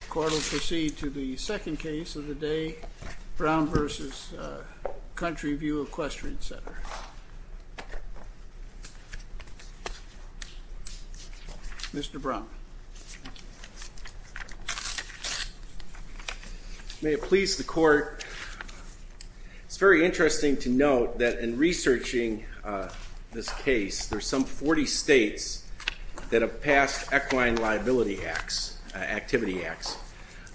The court will proceed to the second case of the day, Brown v. Country View Equestrian Center. Mr. Brown. It's very interesting to note that in researching this case, there are some 40 states that have passed equine liability acts, activity acts.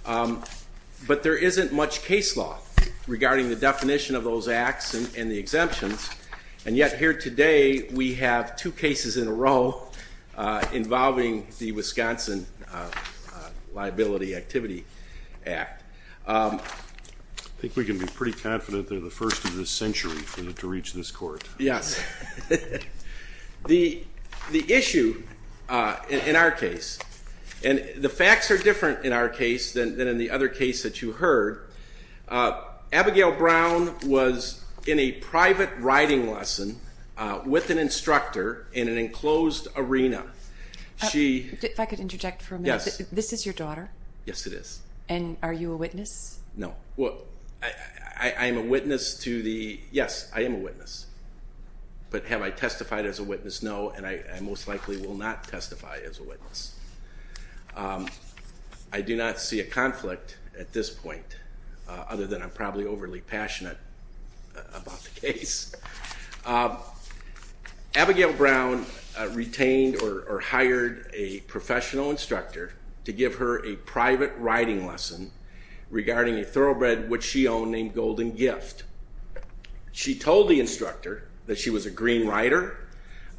But there isn't much case law regarding the definition of those acts and the exemptions, and yet here today we have two cases in a row involving the Wisconsin Liability Activity Act. I think we can be pretty confident that they're the first in this century to reach this court. Yes. The issue in our case, and the facts are different in our case than in the other case that you heard, Abigail Brown was in a private riding lesson with an instructor in an enclosed arena. If I could interject for a minute. Yes. This is your daughter? Yes, it is. And are you a witness? No. Well, I am a witness to the, yes, I am a witness. But have I testified as a witness? No, and I most likely will not testify as a witness. I do not see a conflict at this point, other than I'm probably overly passionate about the case. Abigail Brown retained or hired a professional instructor to give her a private riding lesson regarding a thoroughbred which she owned named Golden Gift. She told the instructor that she was a green rider,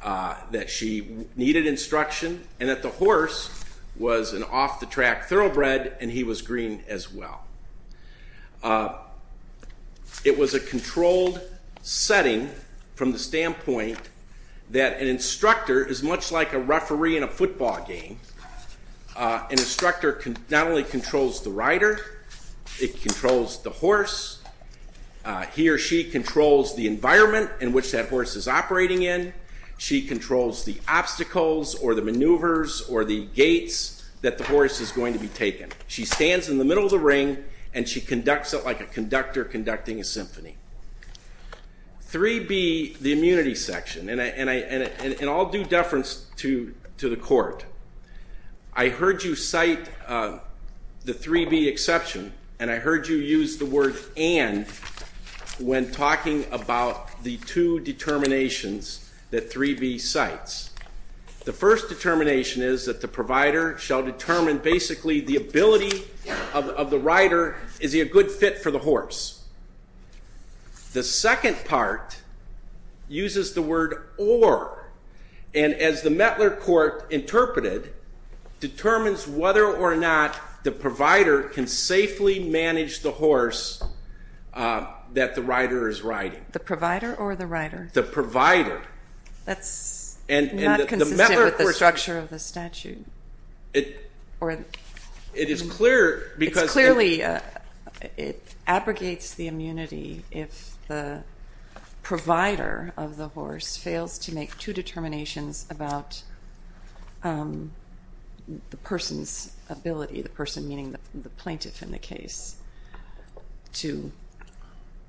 that she needed instruction, and that the horse was an off-the-track thoroughbred and he was green as well. It was a controlled setting from the standpoint that an instructor is much like a referee in a football game. An instructor not only controls the rider, it controls the horse. He or she controls the environment in which that horse is operating in. She controls the obstacles or the maneuvers or the gates that the horse is going to be taken. She stands in the middle of the ring and she conducts it like a conductor conducting a symphony. 3B, the immunity section, and I'll do deference to the court. I heard you cite the 3B exception and I heard you use the word and when talking about the two determinations that 3B cites. The first determination is that the provider shall determine basically the ability of the rider, is he a good fit for the horse? The second part uses the word or, and as the Mettler court interpreted, determines whether or not the provider can safely manage the horse that the rider is riding. The provider or the rider? The provider. That's not consistent with the structure of the statute. It is clear because It's clearly, it abrogates the immunity if the provider of the horse fails to make two determinations about the person's ability, the person meaning the plaintiff in the case, to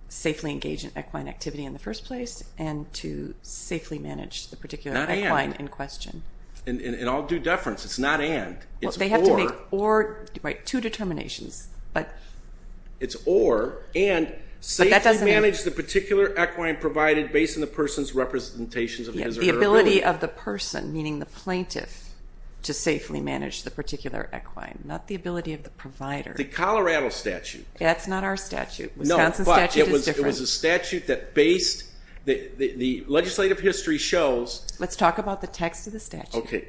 safely engage in equine activity in the first place and to safely manage the particular equine in question. And I'll do deference, it's not and, it's or. They have to make two determinations. It's or and safely manage the particular equine provided based on the person's representations of his or her ability. The ability of the person, meaning the plaintiff, to safely manage the particular equine, not the ability of the provider. The Colorado statute. That's not our statute. Wisconsin statute is different. It was a statute that based, the legislative history shows. Let's talk about the text of the statute. Okay.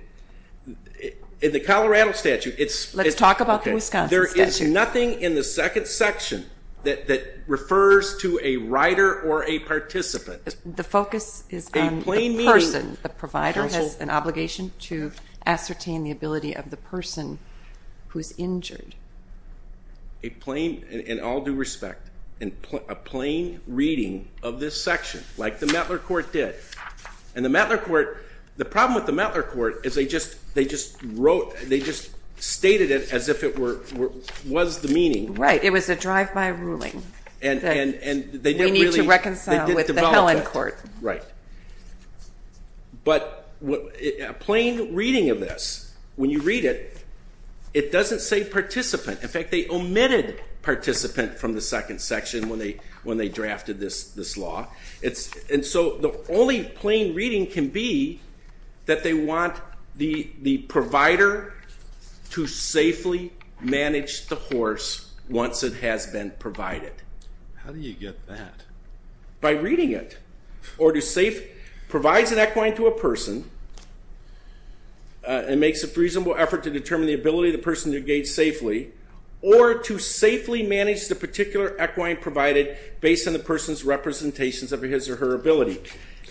In the Colorado statute, it's. Let's talk about the Wisconsin statute. There is nothing in the second section that refers to a rider or a participant. The focus is on the person. A plain meaning. The provider has an obligation to ascertain the ability of the person who's injured. A plain, in all due respect, a plain reading of this section like the Mettler court did. And the Mettler court, the problem with the Mettler court is they just wrote, they just stated it as if it was the meaning. Right. It was a drive-by ruling. And they didn't really. We need to reconcile with the Helen court. Right. But a plain reading of this. When you read it, it doesn't say participant. In fact, they omitted participant from the second section when they drafted this law. And so the only plain reading can be that they want the provider to safely manage the horse once it has been provided. How do you get that? By reading it. Provides an equine to a person and makes a reasonable effort to determine the ability of the person to engage safely or to safely manage the particular equine provided based on the person's representations of his or her ability.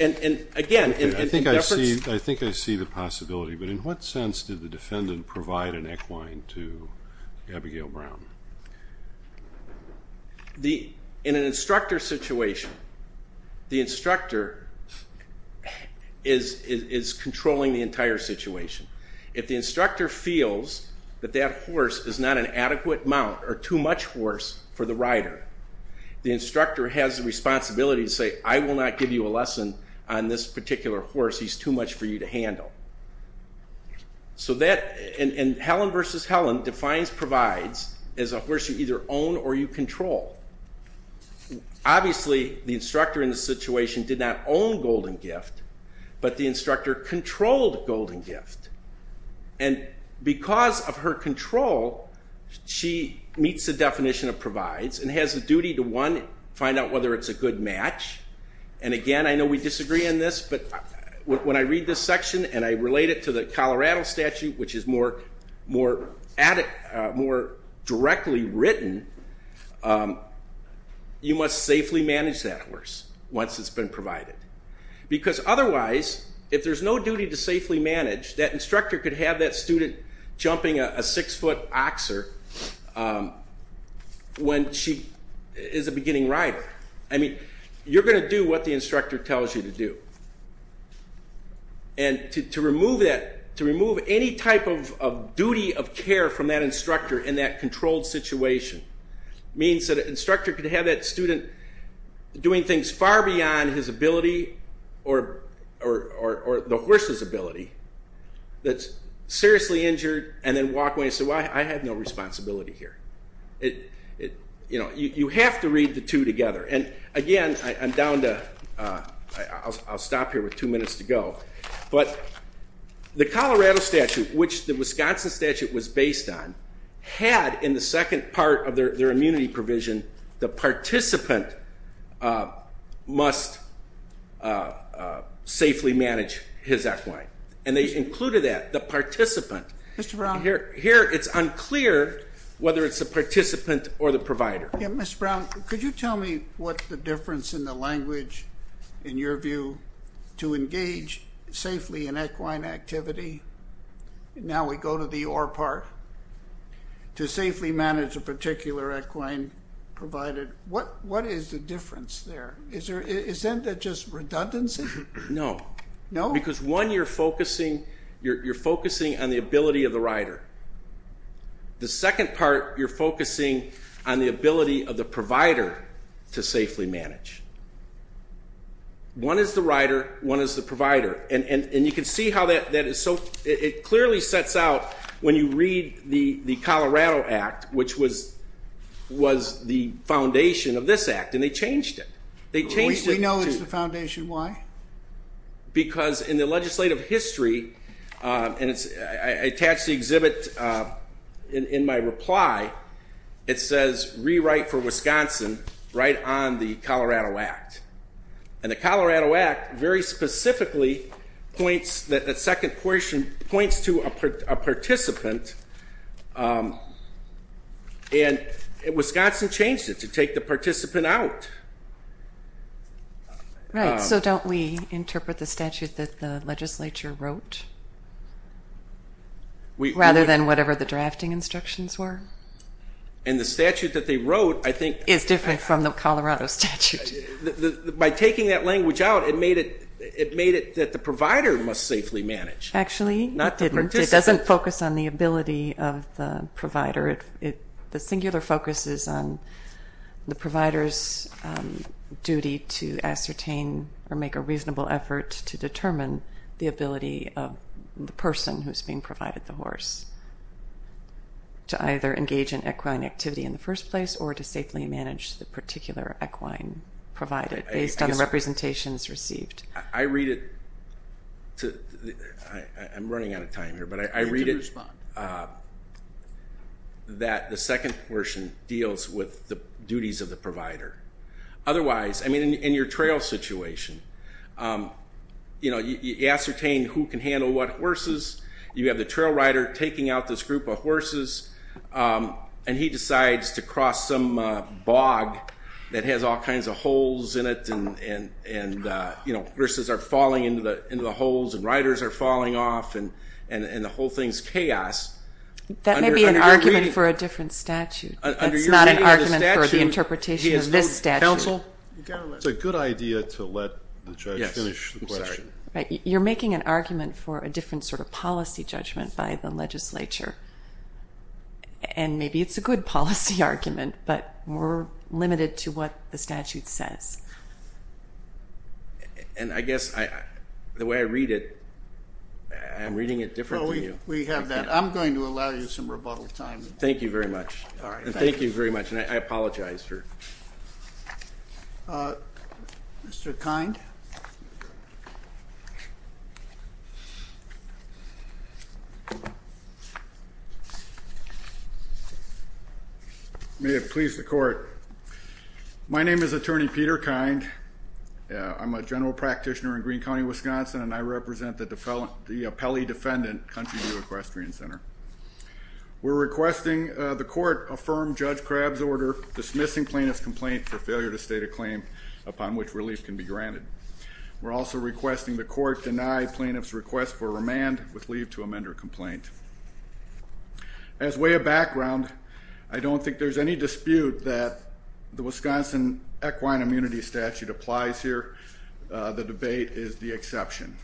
And, again, in efforts. I think I see the possibility. But in what sense did the defendant provide an equine to Abigail Brown? In an instructor situation, the instructor is controlling the entire situation. If the instructor feels that that horse is not an adequate mount or too much horse for the rider, the instructor has the responsibility to say, I will not give you a lesson on this particular horse. He's too much for you to handle. And Helen versus Helen defines provides as a horse you either own or you control. Obviously, the instructor in the situation did not own Golden Gift, but the instructor controlled Golden Gift. And because of her control, she meets the definition of provides and has the duty to, one, find out whether it's a good match. And, again, I know we disagree on this, but when I read this section and I relate it to the Colorado statute, which is more directly written, you must safely manage that horse once it's been provided. Because otherwise, if there's no duty to safely manage, that instructor could have that student jumping a six-foot oxer when she is a beginning rider. I mean, you're going to do what the instructor tells you to do. And to remove any type of duty of care from that instructor in that controlled situation means that an instructor could have that student doing things far beyond his ability or the horse's ability that's seriously injured and then walk away and say, well, I have no responsibility here. You have to read the two together. And, again, I'm down to ‑‑ I'll stop here with two minutes to go. But the Colorado statute, which the Wisconsin statute was based on, had in the second part of their immunity provision the participant must safely manage his equine. And they included that, the participant. Here it's unclear whether it's the participant or the provider. Mr. Brown, could you tell me what the difference in the language, in your view, to engage safely in equine activity, now we go to the or part, to safely manage a particular equine provided, what is the difference there? Isn't it just redundancy? No. No? Because, one, you're focusing on the ability of the rider. The second part, you're focusing on the ability of the provider to safely manage. One is the rider, one is the provider. And you can see how that is so ‑‑ it clearly sets out when you read the Colorado Act, which was the foundation of this act, and they changed it. We know it's the foundation. Why? Because in the legislative history, and I attached the exhibit in my reply, it says rewrite for Wisconsin right on the Colorado Act. And the Colorado Act very specifically points, that second portion, points to a participant, and Wisconsin changed it to take the participant out. Right. So don't we interpret the statute that the legislature wrote, rather than whatever the drafting instructions were? And the statute that they wrote, I think ‑‑ Is different from the Colorado statute. By taking that language out, it made it that the provider must safely manage. Actually, it didn't. Not the participant. It doesn't focus on the ability of the provider. The singular focus is on the provider's duty to ascertain or make a reasonable effort to determine the ability of the person who is being provided the horse, to either engage in equine activity in the first place or to safely manage the particular equine provided, based on the representations received. I read it ‑‑ I'm running out of time here. But I read it that the second portion deals with the duties of the provider. Otherwise, I mean, in your trail situation, you ascertain who can handle what horses. You have the trail rider taking out this group of horses, and he decides to cross some bog that has all kinds of holes in it, and horses are falling into the holes, and riders are falling off, and the whole thing is chaos. That may be an argument for a different statute. That's not an argument for the interpretation of this statute. Counsel? It's a good idea to let the judge finish the question. You're making an argument for a different sort of policy judgment by the legislature. And maybe it's a good policy argument, but we're limited to what the statute says. And I guess the way I read it, I'm reading it different than you. We have that. I'm going to allow you some rebuttal time. Thank you very much. All right. Thank you very much. And I apologize for ‑‑ Mr. Kind? May it please the Court. My name is Attorney Peter Kind. I'm a general practitioner in Greene County, Wisconsin, and I represent the Pelley Defendant Country View Equestrian Center. We're requesting the court affirm Judge Crabb's order dismissing plaintiff's complaint for failure to state a claim upon which relief can be granted. We're also requesting the court deny plaintiff's request for remand with leave to amend her complaint. As way of background, I don't think there's any dispute that the Wisconsin Equine Immunity Statute applies here. The debate is the exception.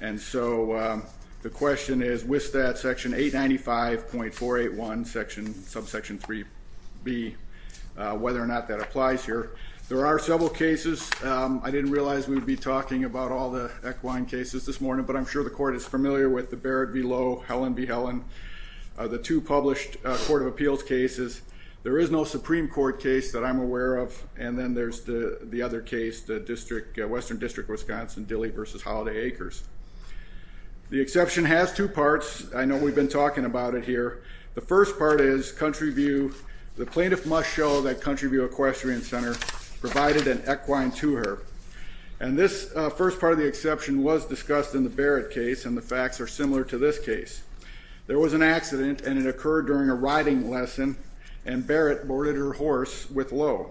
And so the question is with that, Section 895.481, subsection 3B, whether or not that applies here. There are several cases. I didn't realize we would be talking about all the equine cases this morning, but I'm sure the court is familiar with the Barrett v. Lowe, Helen v. Helen, the two published Court of Appeals cases. There is no Supreme Court case that I'm aware of. And then there's the other case, the district ‑‑ Western District, Wisconsin, Dilley v. Holiday Acres. The exception has two parts. I know we've been talking about it here. The first part is Country View ‑‑ the plaintiff must show that Country View Equestrian Center provided an equine to her. And this first part of the exception was discussed in the Barrett case, and the facts are similar to this case. There was an accident, and it occurred during a riding lesson, and Barrett boarded her horse with Lowe.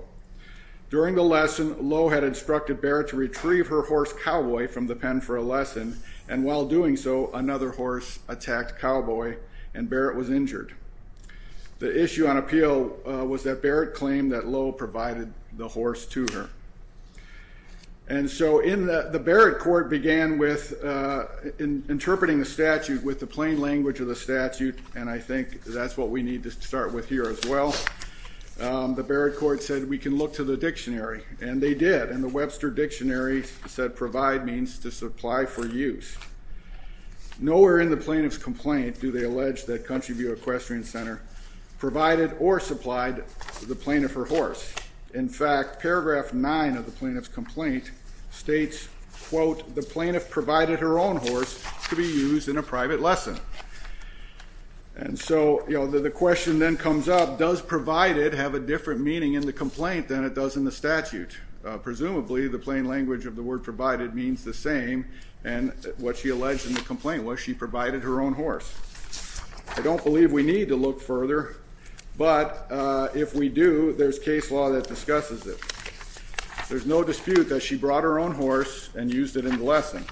During the lesson, Lowe had instructed Barrett to retrieve her horse, Cowboy, from the pen for a lesson, and while doing so, another horse attacked Cowboy, and Barrett was injured. The issue on appeal was that Barrett claimed that Lowe provided the horse to her. And so the Barrett court began with interpreting the statute with the plain language of the statute, and I think that's what we need to start with here as well. The Barrett court said we can look to the dictionary, and they did, and the Webster Dictionary said provide means to supply for use. Nowhere in the plaintiff's complaint do they allege that Country View Equestrian Center provided or supplied the plaintiff her horse. In fact, paragraph 9 of the plaintiff's complaint states, quote, the plaintiff provided her own horse to be used in a private lesson. And so, you know, the question then comes up, does provided have a different meaning in the complaint than it does in the statute? Presumably the plain language of the word provided means the same, and what she alleged in the complaint was she provided her own horse. I don't believe we need to look further, but if we do, there's case law that discusses it. There's no dispute that she brought her own horse and used it in the lesson.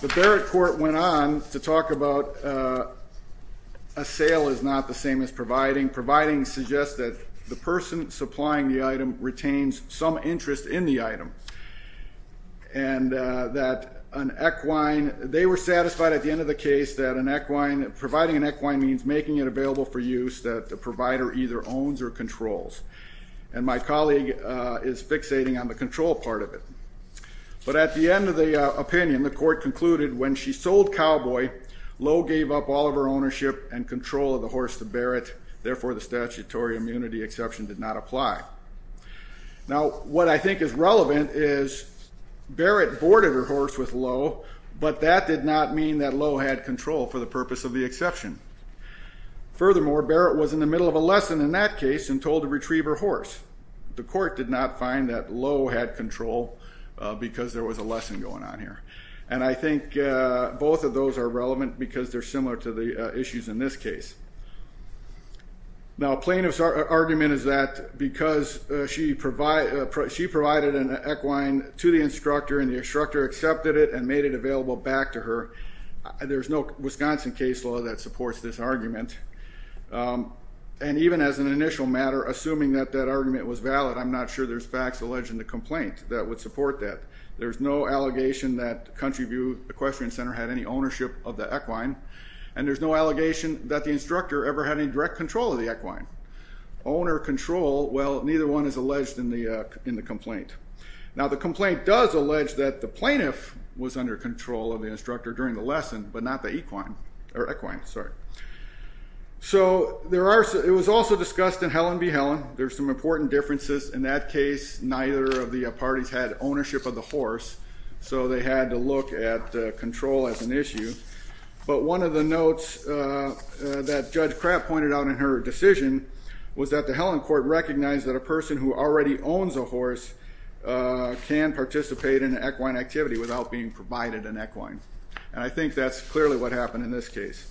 The Barrett court went on to talk about a sale is not the same as providing. Providing suggests that the person supplying the item retains some interest in the item, and that an equine they were satisfied at the end of the case that an equine, providing an equine means making it available for use that the provider either owns or controls. And my colleague is fixating on the control part of it. But at the end of the opinion, the court concluded when she sold Cowboy, Lowe gave up all of her ownership and control of the horse to Barrett, therefore the statutory immunity exception did not apply. Now, what I think is relevant is Barrett boarded her horse with Lowe, but that did not mean that Lowe had control for the purpose of the exception. Furthermore, Barrett was in the middle of a lesson in that case and told to retrieve her horse. The court did not find that Lowe had control because there was a lesson going on here. And I think both of those are relevant because they're similar to the issues in this case. Now, plaintiff's argument is that because she provided an equine to the instructor and the instructor accepted it and made it available back to her, there's no Wisconsin case law that supports this argument. And even as an initial matter, assuming that that argument was valid, I'm not sure there's facts alleged in the complaint that would support that. There's no allegation that Country View Equestrian Center had any ownership of the equine, and there's no allegation that the instructor ever had any direct control of the equine. Owner control, well, neither one is alleged in the complaint. Now, the complaint does allege that the plaintiff was under control of the instructor during the lesson, but not the equine. So it was also discussed in Helen v. Helen. There's some important differences. In that case, neither of the parties had ownership of the horse, so they had to look at control as an issue. But one of the notes that Judge Kraft pointed out in her decision was that the Helen court recognized that a person who already owns a horse can participate in an equine activity without being provided an equine. And I think that's clearly what happened in this case.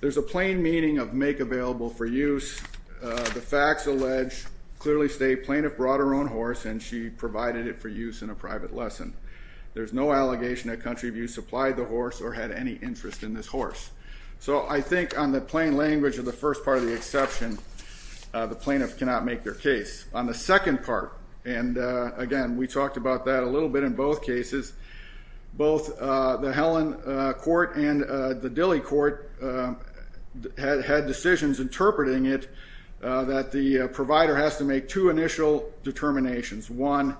There's a plain meaning of make available for use. The facts allege clearly state plaintiff brought her own horse, and she provided it for use in a private lesson. There's no allegation that Country View supplied the horse or had any interest in this horse. So I think on the plain language of the first part of the exception, the plaintiff cannot make their case. On the second part, and, again, we talked about that a little bit in both cases, both the Helen court and the Dilley court had decisions interpreting it that the provider has to make two initial determinations. One,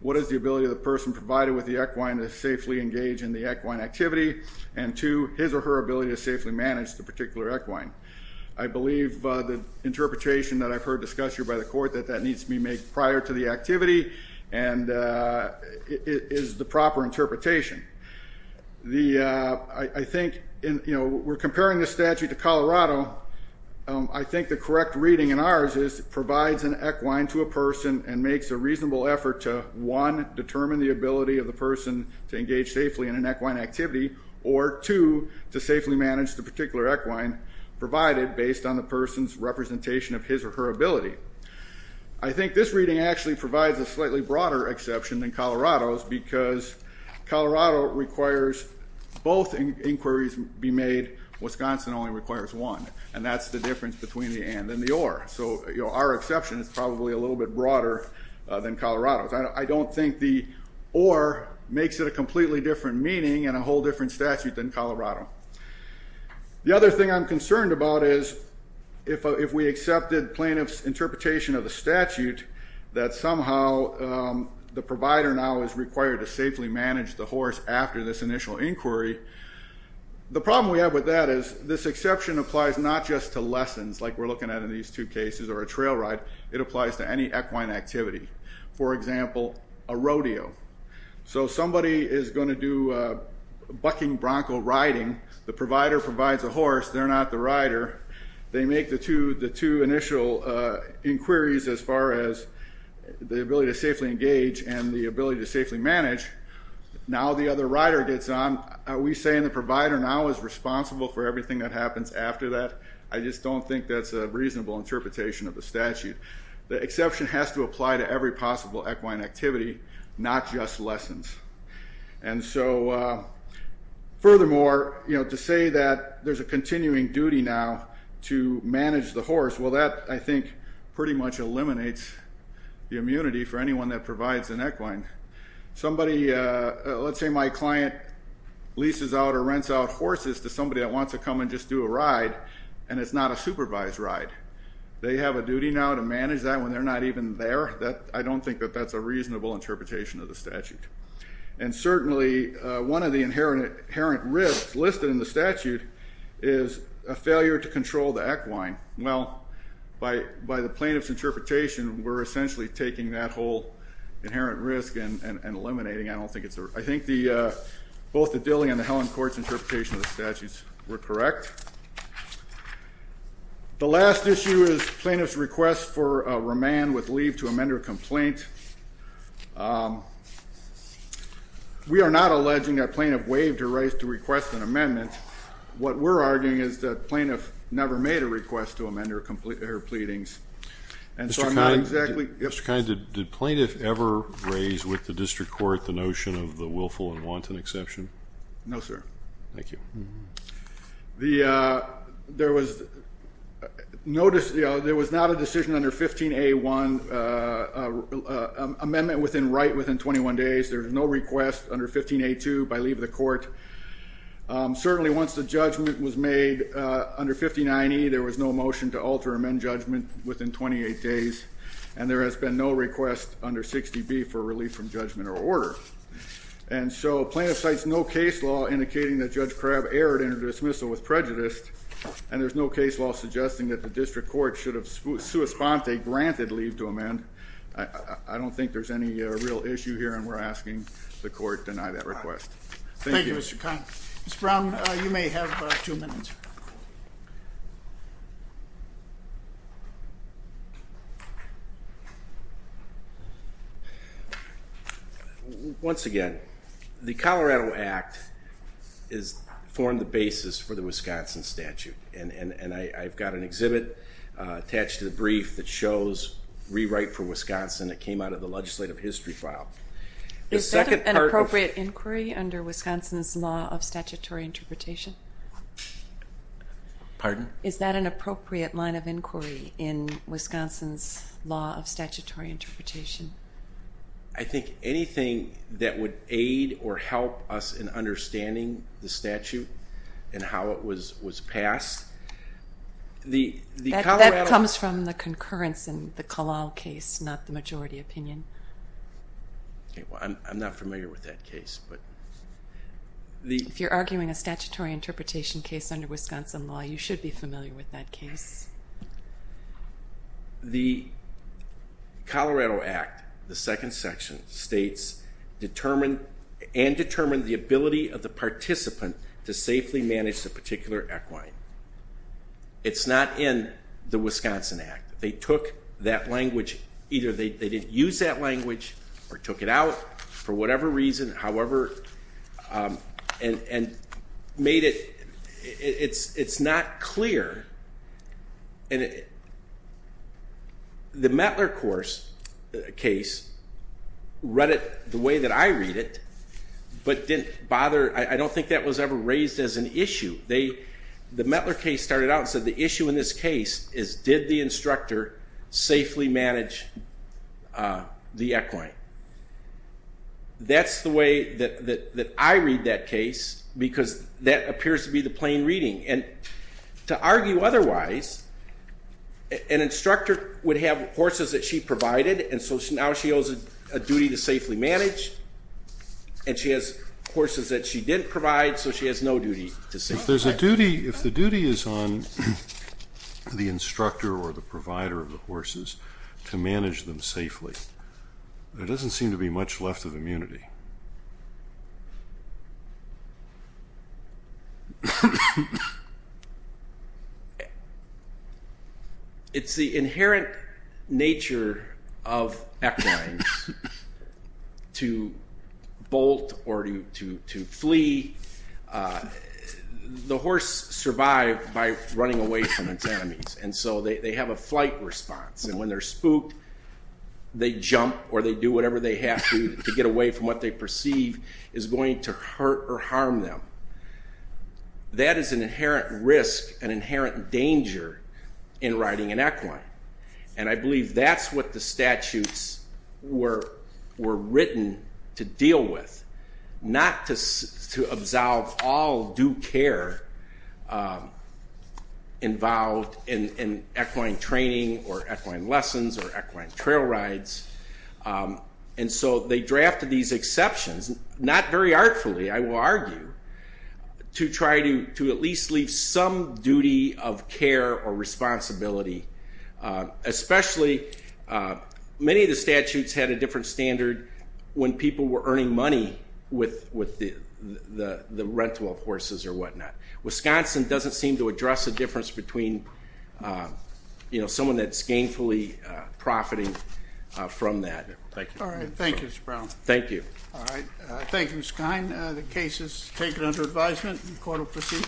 what is the ability of the person provided with the equine to safely engage in the equine activity? And, two, his or her ability to safely manage the particular equine. I believe the interpretation that I've heard discussed here by the court that that needs to be made prior to the activity and is the proper interpretation. I think, you know, we're comparing the statute to Colorado. I think the correct reading in ours is it provides an equine to a person and makes a reasonable effort to, one, determine the ability of the person to engage safely in an equine activity, or, two, to safely manage the particular equine provided based on the person's representation of his or her ability. I think this reading actually provides a slightly broader exception than Colorado's because Colorado requires both inquiries be made. Wisconsin only requires one, and that's the difference between the and and the or. So, you know, our exception is probably a little bit broader than Colorado's. I don't think the or makes it a completely different meaning and a whole different statute than Colorado. The other thing I'm concerned about is if we accepted plaintiff's interpretation of the statute that somehow the provider now is required to safely manage the horse after this initial inquiry, the problem we have with that is this exception applies not just to lessons like we're looking at in these two cases or a trail ride. It applies to any equine activity, for example, a rodeo. So somebody is going to do a bucking bronco riding. The provider provides a horse. They're not the rider. They make the two initial inquiries as far as the ability to safely engage and the ability to safely manage. Now the other rider gets on. Are we saying the provider now is responsible for everything that happens after that? I just don't think that's a reasonable interpretation of the statute. The exception has to apply to every possible equine activity, not just lessons. And so furthermore, you know, to say that there's a continuing duty now to manage the horse, well, that, I think, pretty much eliminates the immunity for anyone that provides an equine. Somebody, let's say my client leases out or rents out horses to somebody that wants to come and just do a ride, and it's not a supervised ride. They have a duty now to manage that when they're not even there. I don't think that that's a reasonable interpretation of the statute. And certainly one of the inherent risks listed in the statute is a failure to control the equine. Well, by the plaintiff's interpretation, we're essentially taking that whole inherent risk and eliminating it. I think both the Dilley and the Helen Court's interpretation of the statutes were correct. The last issue is plaintiff's request for remand with leave to amend her complaint. We are not alleging that plaintiff waived her right to request an amendment. What we're arguing is that plaintiff never made a request to amend her pleadings. Mr. Kine, did plaintiff ever raise with the district court the notion of the willful and wanton exception? No, sir. Thank you. There was no decision. There was not a decision under 15A1, amendment within right within 21 days. There was no request under 15A2 by leave of the court. Certainly once the judgment was made under 5090, there was no motion to alter amend judgment within 28 days, and there has been no request under 60B for relief from judgment or order. And so plaintiff cites no case law indicating that Judge Crabb erred in her dismissal with prejudice, and there's no case law suggesting that the district court should have sua sponte granted leave to amend. I don't think there's any real issue here, and we're asking the court to deny that request. Thank you, Mr. Kine. Mr. Brown, you may have two minutes. Once again, the Colorado Act has formed the basis for the Wisconsin statute, and I've got an exhibit attached to the brief that shows rewrite for Wisconsin that came out of the legislative history file. Is that an appropriate inquiry under Wisconsin's law of statutory interpretation? Pardon? Is that an appropriate line of inquiry in Wisconsin's law of statutory interpretation? I think anything that would aid or help us in understanding the statute and how it was passed. That comes from the concurrence in the Kalal case, not the majority opinion. I'm not familiar with that case. If you're arguing a statutory interpretation case under Wisconsin law, you should be familiar with that case. The Colorado Act, the second section states, and determined the ability of the participant to safely manage the particular equine. It's not in the Wisconsin Act. They took that language. Either they didn't use that language or took it out for whatever reason, however, and made it, it's not clear. The Mettler case, read it the way that I read it, but didn't bother. I don't think that was ever raised as an issue. The Mettler case started out and said the issue in this case is did the instructor safely manage the equine? That's the way that I read that case because that appears to be the plain reading, and to argue otherwise, an instructor would have horses that she provided, and so now she owes a duty to safely manage, and she has horses that she didn't provide, so she has no duty to safely manage. If there's a duty, if the duty is on the instructor or the provider of the horses to manage them safely, there doesn't seem to be much left of immunity. It's the inherent nature of equines to bolt or to flee. The horse survived by running away from its enemies, and so they have a flight response, and when they're spooked, they jump or they do whatever they have to to get away from what they perceive is going to hurt or harm them. That is an inherent risk, an inherent danger in riding an equine, and I believe that's what the statutes were written to deal with, not to absolve all due care involved in equine training or equine lessons or equine trail rides, and so they drafted these exceptions, not very artfully, I will argue, to try to at least leave some duty of care or responsibility, especially many of the statutes had a different standard when people were earning money with the rental of horses or whatnot. Wisconsin doesn't seem to address the difference between someone that's gainfully profiting from that. Thank you. All right. Thank you, Mr. Brown. Thank you. All right. Thank you, Mr. Kine. The case is taken under advisement, and the court will proceed.